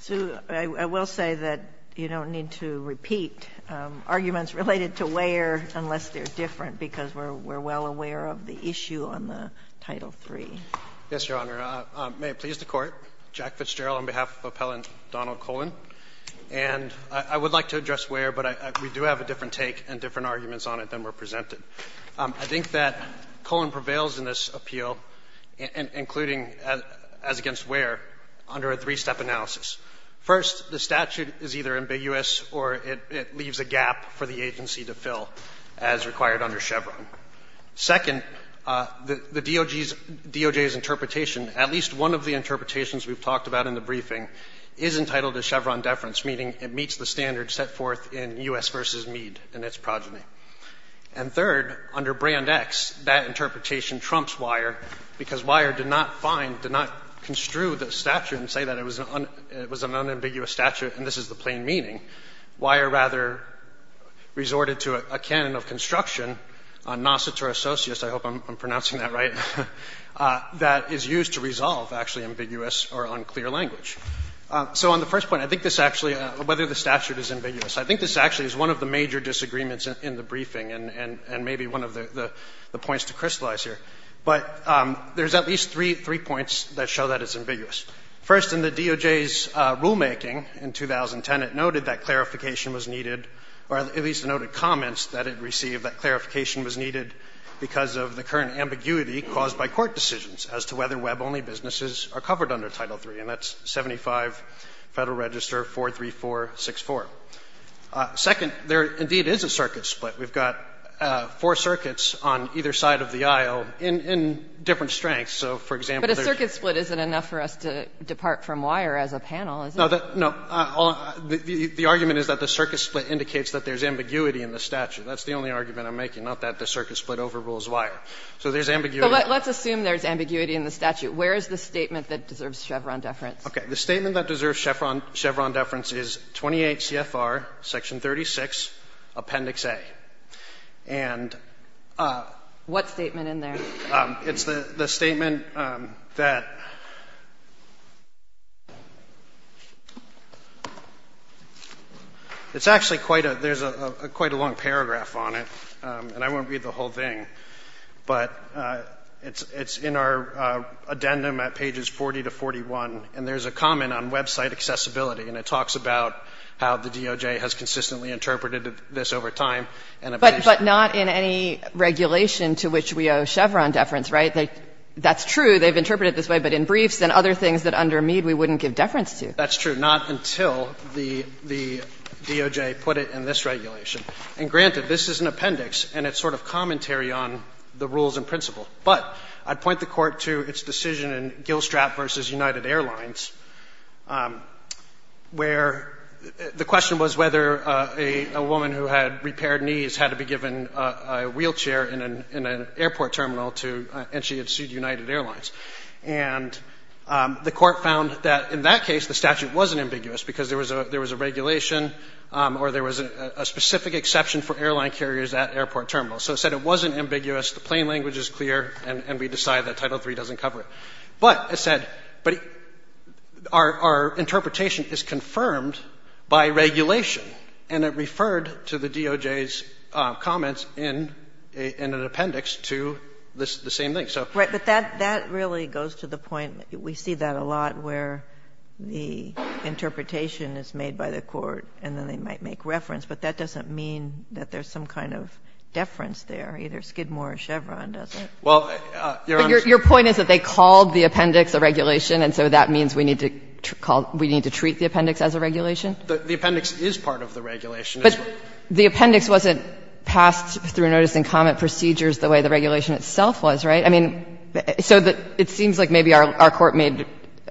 So I will say that you don't need to repeat arguments related to Weyer unless they're different, because we're well aware of the issue on the Title III. Yes, Your Honor. May it please the Court, Jack Fitzgerald on behalf of Appellant Donald Cullen. And I would like to address Weyer, but we do have a different take and different arguments on it than were presented. I think that Cullen prevails in this appeal, including as against Weyer, under a three-step analysis. First, the statute is either ambiguous or it leaves a gap for the agency to fill, as required under Chevron. Second, the DOJ's interpretation, at least one of the interpretations we've talked about in the briefing, is entitled to Chevron deference, meaning it meets the standards set forth in U.S. v. Meade and its progeny. And third, under Brand X, that interpretation trumps Weyer, because Weyer did not find – did not construe the statute and say that it was an unambiguous statute, and this is the plain meaning. Weyer rather resorted to a canon of construction, a nocitor associus – I hope I'm pronouncing that right – that is used to resolve actually ambiguous or unclear language. So on the first point, I think this actually – whether the statute is ambiguous. I think this actually is one of the major disagreements in the briefing and maybe one of the points to crystallize here. But there's at least three points that show that it's ambiguous. First, in the DOJ's rulemaking in 2010, it noted that clarification was needed or at least noted comments that it received that clarification was needed because of the current ambiguity caused by court decisions as to whether web-only businesses are covered under Title III, and that's 75 Federal Register 43464. Second, there indeed is a circuit split. We've got four circuits on either side of the aisle in different strengths. So, for example, there's – But a circuit split isn't enough for us to depart from Weyer as a panel, is it? No. The argument is that the circuit split indicates that there's ambiguity in the statute. That's the only argument I'm making, not that the circuit split overrules Weyer. So there's ambiguity. Let's assume there's ambiguity in the statute. Where is the statement that deserves Chevron deference? Okay. The statement that deserves Chevron deference is 28 CFR, Section 36, Appendix A. And the statement that – What statement in there? It's the statement that – it's actually quite a – there's quite a long paragraph on it, and I won't read the whole thing, but it's in our addendum at pages 40 to 41, and there's a comment on website accessibility, and it talks about how the DOJ has consistently interpreted this over time. But not in any regulation to which we owe Chevron deference, right? That's true. They've interpreted it this way, but in briefs and other things that under Mead we wouldn't give deference to. That's true. Not until the DOJ put it in this regulation. And granted, this is an appendix, and it's sort of commentary on the rules and principle. But I'd point the Court to its decision in Gillstrap v. United Airlines, where the question was whether a woman who had repaired knees had to be given a wheelchair in an airport terminal to – and she had sued United Airlines. And the Court found that in that case, the statute wasn't ambiguous because there was a regulation or there was a specific exception for airline carriers at airport terminals. So it said it wasn't ambiguous. The plain language is clear, and we decide that Title III doesn't cover it. But it said – but our interpretation is confirmed by regulation, and it referred to the DOJ's comments in an appendix to the same thing. So – Right. But that really goes to the point – we see that a lot where the interpretation is made by the Court, and then they might make reference. But that doesn't mean that there's some kind of deference there, either Skidmore or Chevron, does it? Well, Your Honor – But your point is that they called the appendix a regulation, and so that means we need to call – we need to treat the appendix as a regulation? The appendix is part of the regulation. But the appendix wasn't passed through notice and comment procedures the way the regulation itself was, right? I mean, so it seems like maybe our Court made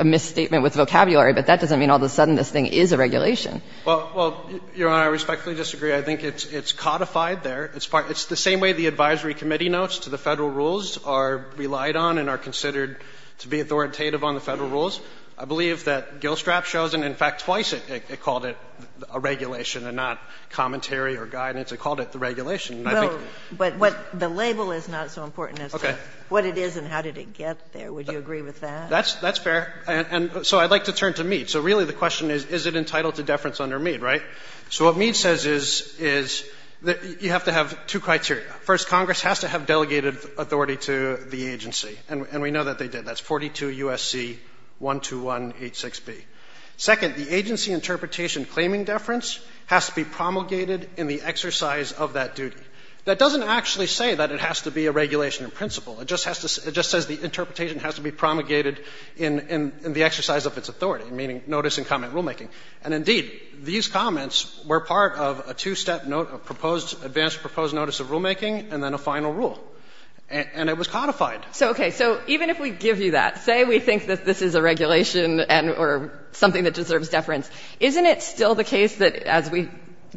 a misstatement with vocabulary, but that doesn't mean all of a sudden this thing is a regulation. Well, Your Honor, I respectfully disagree. I think it's codified there. It's the same way the advisory committee notes to the Federal rules are relied on and are considered to be authoritative on the Federal rules. I believe that Gillstrap shows – and in fact, twice it called it a regulation and not commentary or guidance. It called it the regulation. And I think – Well, but the label is not so important as to what it is and how did it get there. Would you agree with that? That's fair. And so I'd like to turn to Mead. So really the question is, is it entitled to deference under Mead, right? So what Mead says is that you have to have two criteria. First, Congress has to have delegated authority to the agency. And we know that they did. That's 42 U.S.C. 12186b. Second, the agency interpretation claiming deference has to be promulgated in the exercise of that duty. That doesn't actually say that it has to be a regulation in principle. It just says the interpretation has to be promulgated in the exercise of its authority, meaning notice and comment rulemaking. And indeed, these comments were part of a two-step proposed – advanced proposed notice of rulemaking and then a final rule. And it was codified. So, okay, so even if we give you that, say we think that this is a regulation and or something that deserves deference, isn't it still the case that, as we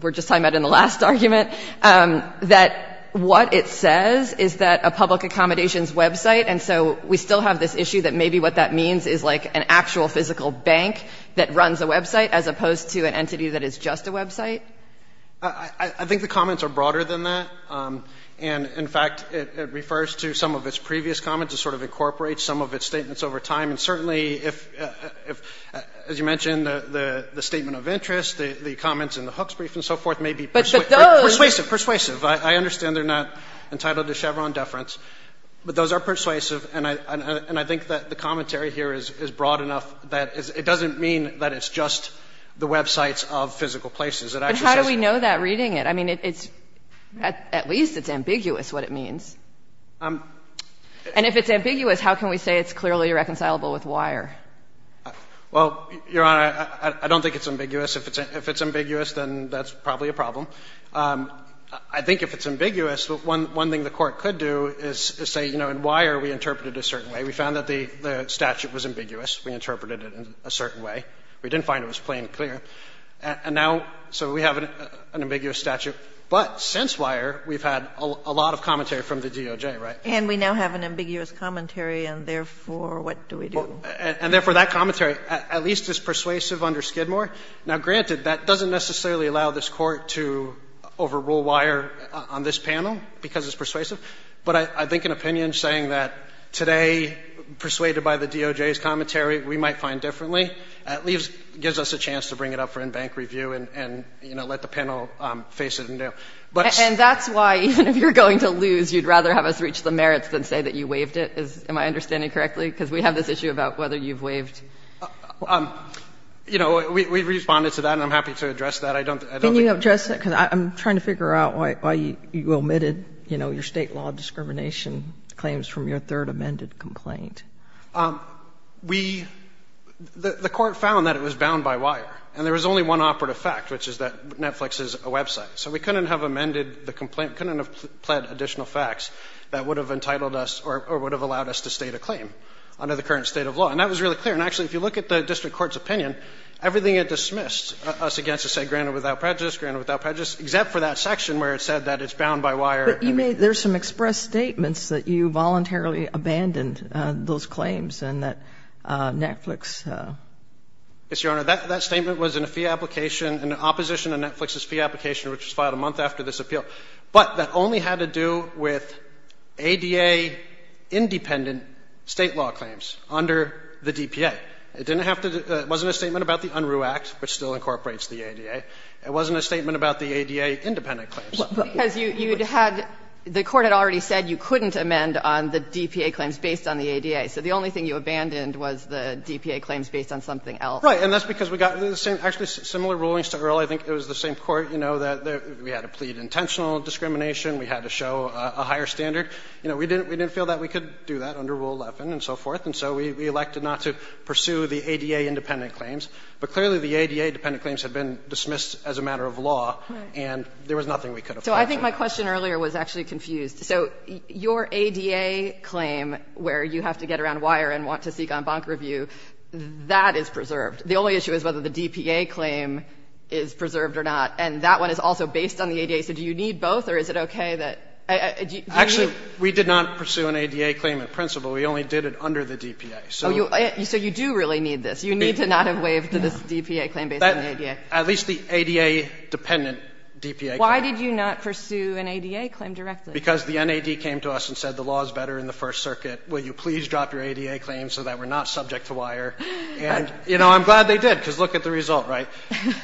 were just talking about in the last argument, that what it says is that a public accommodations website – and so we still have this issue that maybe what that is is a bank that runs a website as opposed to an entity that is just a website? I think the comments are broader than that. And, in fact, it refers to some of its previous comments to sort of incorporate some of its statements over time. And certainly, if – as you mentioned, the statement of interest, the comments in the Hooks brief and so forth may be persuasive. I understand they're not entitled to Chevron deference, but those are persuasive. And I think that the commentary here is broad enough that it doesn't mean that it's just the websites of physical places. It actually says – But how do we know that reading it? I mean, it's – at least it's ambiguous what it means. And if it's ambiguous, how can we say it's clearly reconcilable with Weyer? Well, Your Honor, I don't think it's ambiguous. If it's ambiguous, then that's probably a problem. I think if it's ambiguous, one thing the Court could do is say, you know, in Weyer we interpreted it a certain way. We found that the statute was ambiguous. We interpreted it a certain way. We didn't find it was plain and clear. And now – so we have an ambiguous statute. But since Weyer, we've had a lot of commentary from the DOJ, right? And we now have an ambiguous commentary, and therefore, what do we do? And therefore, that commentary at least is persuasive under Skidmore. Now, granted, that doesn't necessarily allow this Court to overrule Weyer on this panel because it's persuasive. But I think an opinion saying that today, persuaded by the DOJ's commentary, we might find differently, at least gives us a chance to bring it up for in-bank review and, you know, let the panel face it and do it. But it's – And that's why, even if you're going to lose, you'd rather have us reach the merits than say that you waived it, am I understanding correctly? Because we have this issue about whether you've waived. You know, we've responded to that, and I'm happy to address that. I don't think – Sotomayor, just because I'm trying to figure out why you omitted, you know, your State law discrimination claims from your third amended complaint. We – the Court found that it was bound by Weyer, and there was only one operative fact, which is that Netflix is a website. So we couldn't have amended the complaint, couldn't have pled additional facts that would have entitled us or would have allowed us to state a claim under the current state of law. And that was really clear. And actually, if you look at the district court's opinion, everything it dismissed us against is, say, granted without prejudice, granted without prejudice, except for that section where it said that it's bound by Weyer. But you made – there's some express statements that you voluntarily abandoned those claims and that Netflix – Yes, Your Honor. That statement was in a fee application, in opposition to Netflix's fee application, which was filed a month after this appeal. But that only had to do with ADA-independent State law claims under the DPA. It didn't have to – it wasn't a statement about the Unruh Act, which still incorporates the ADA. It wasn't a statement about the ADA-independent claims. But the Court had already said you couldn't amend on the DPA claims based on the ADA. So the only thing you abandoned was the DPA claims based on something else. Right. And that's because we got the same – actually, similar rulings to Earl. I think it was the same court. You know, that we had to plead intentional discrimination. We had to show a higher standard. You know, we didn't feel that we could do that under Rule 11 and so forth. And so we elected not to pursue the ADA-independent claims. But clearly, the ADA-dependent claims had been dismissed as a matter of law. Right. And there was nothing we could have done. So I think my question earlier was actually confused. So your ADA claim, where you have to get around wire and want to seek en banc review, that is preserved. The only issue is whether the DPA claim is preserved or not. And that one is also based on the ADA. So do you need both, or is it okay that – do you need – Actually, we did not pursue an ADA claim in principle. We only did it under the DPA. So you do really need this. You need to not have waived this DPA claim based on the ADA. At least the ADA-dependent DPA claim. Why did you not pursue an ADA claim directly? Because the NAD came to us and said the law is better in the First Circuit. Will you please drop your ADA claim so that we're not subject to wire? And, you know, I'm glad they did, because look at the result, right?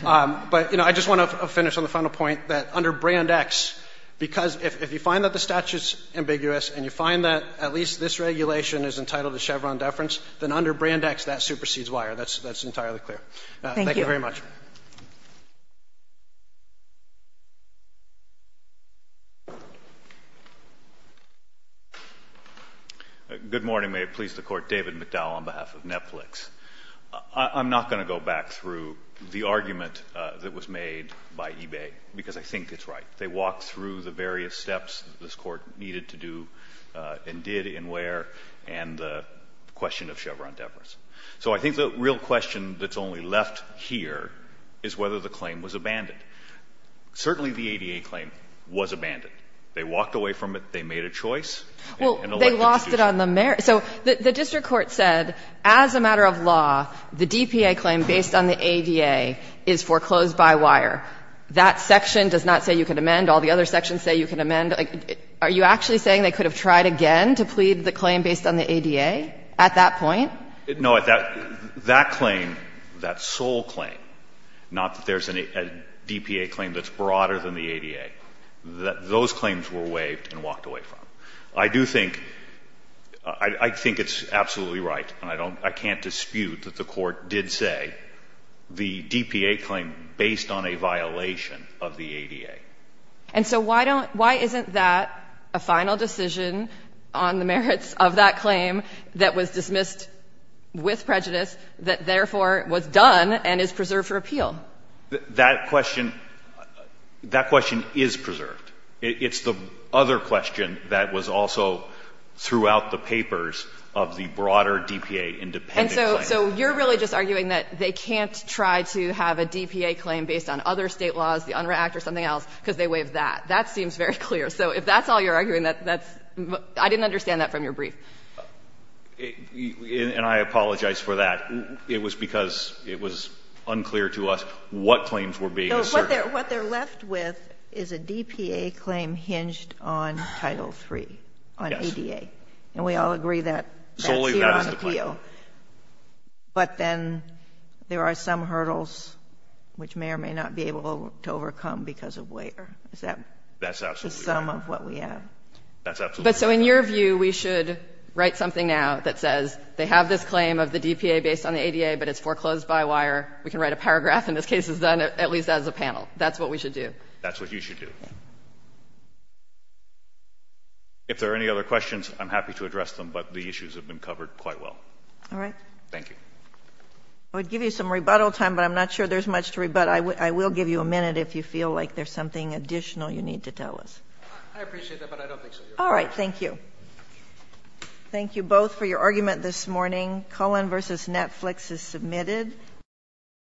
But, you know, I just want to finish on the final point that under Brand X, because if you find that the statute is ambiguous and you find that at least this regulation is entitled to Chevron deference, then under Brand X that supersedes wire. That's entirely clear. Thank you very much. Good morning. May it please the Court. David McDowell on behalf of Netflix. I'm not going to go back through the argument that was made by eBay, because I think it's right. They walked through the various steps this Court needed to do and did and where, and the question of Chevron deference. So I think the real question that's only left here is whether the claim was abandoned. Certainly the ADA claim was abandoned. They walked away from it. They made a choice. Well, they lost it on the merits. So the district court said as a matter of law, the DPA claim based on the ADA is foreclosed by wire. That section does not say you can amend. All the other sections say you can amend. Are you actually saying they could have tried again to plead the claim based on the ADA at that point? No. That claim, that sole claim, not that there's a DPA claim that's broader than the ADA, those claims were waived and walked away from. I do think — I think it's absolutely right, and I don't — I can't dispute that the Court did say the DPA claim based on a violation of the ADA. And so why don't — why isn't that a final decision on the merits of that claim that was dismissed with prejudice that therefore was done and is preserved for appeal? That question — that question is preserved. It's the other question that was also throughout the papers of the broader DPA independent claim. And so you're really just arguing that they can't try to have a DPA claim based on other State laws, the UNRRA Act or something else, because they waived that. That seems very clear. So if that's all you're arguing, that's — I didn't understand that from your brief. And I apologize for that. It was because it was unclear to us what claims were being asserted. What they're left with is a DPA claim hinged on Title III, on ADA. Yes. And we all agree that's here on appeal. But then there are some hurdles which may or may not be able to overcome because of waiver. Is that the sum of what we have? That's absolutely right. But so in your view, we should write something now that says they have this claim of the DPA based on the ADA, but it's foreclosed by wire. We can write a paragraph, and this case is done at least as a panel. That's what we should do. That's what you should do. If there are any other questions, I'm happy to address them. But the issues have been covered quite well. All right. Thank you. I would give you some rebuttal time, but I'm not sure there's much to rebut. I will give you a minute if you feel like there's something additional you need to tell us. I appreciate that, but I don't think so. All right. Thank you. Thank you both for your argument this morning. Cullen v. Netflix is submitted.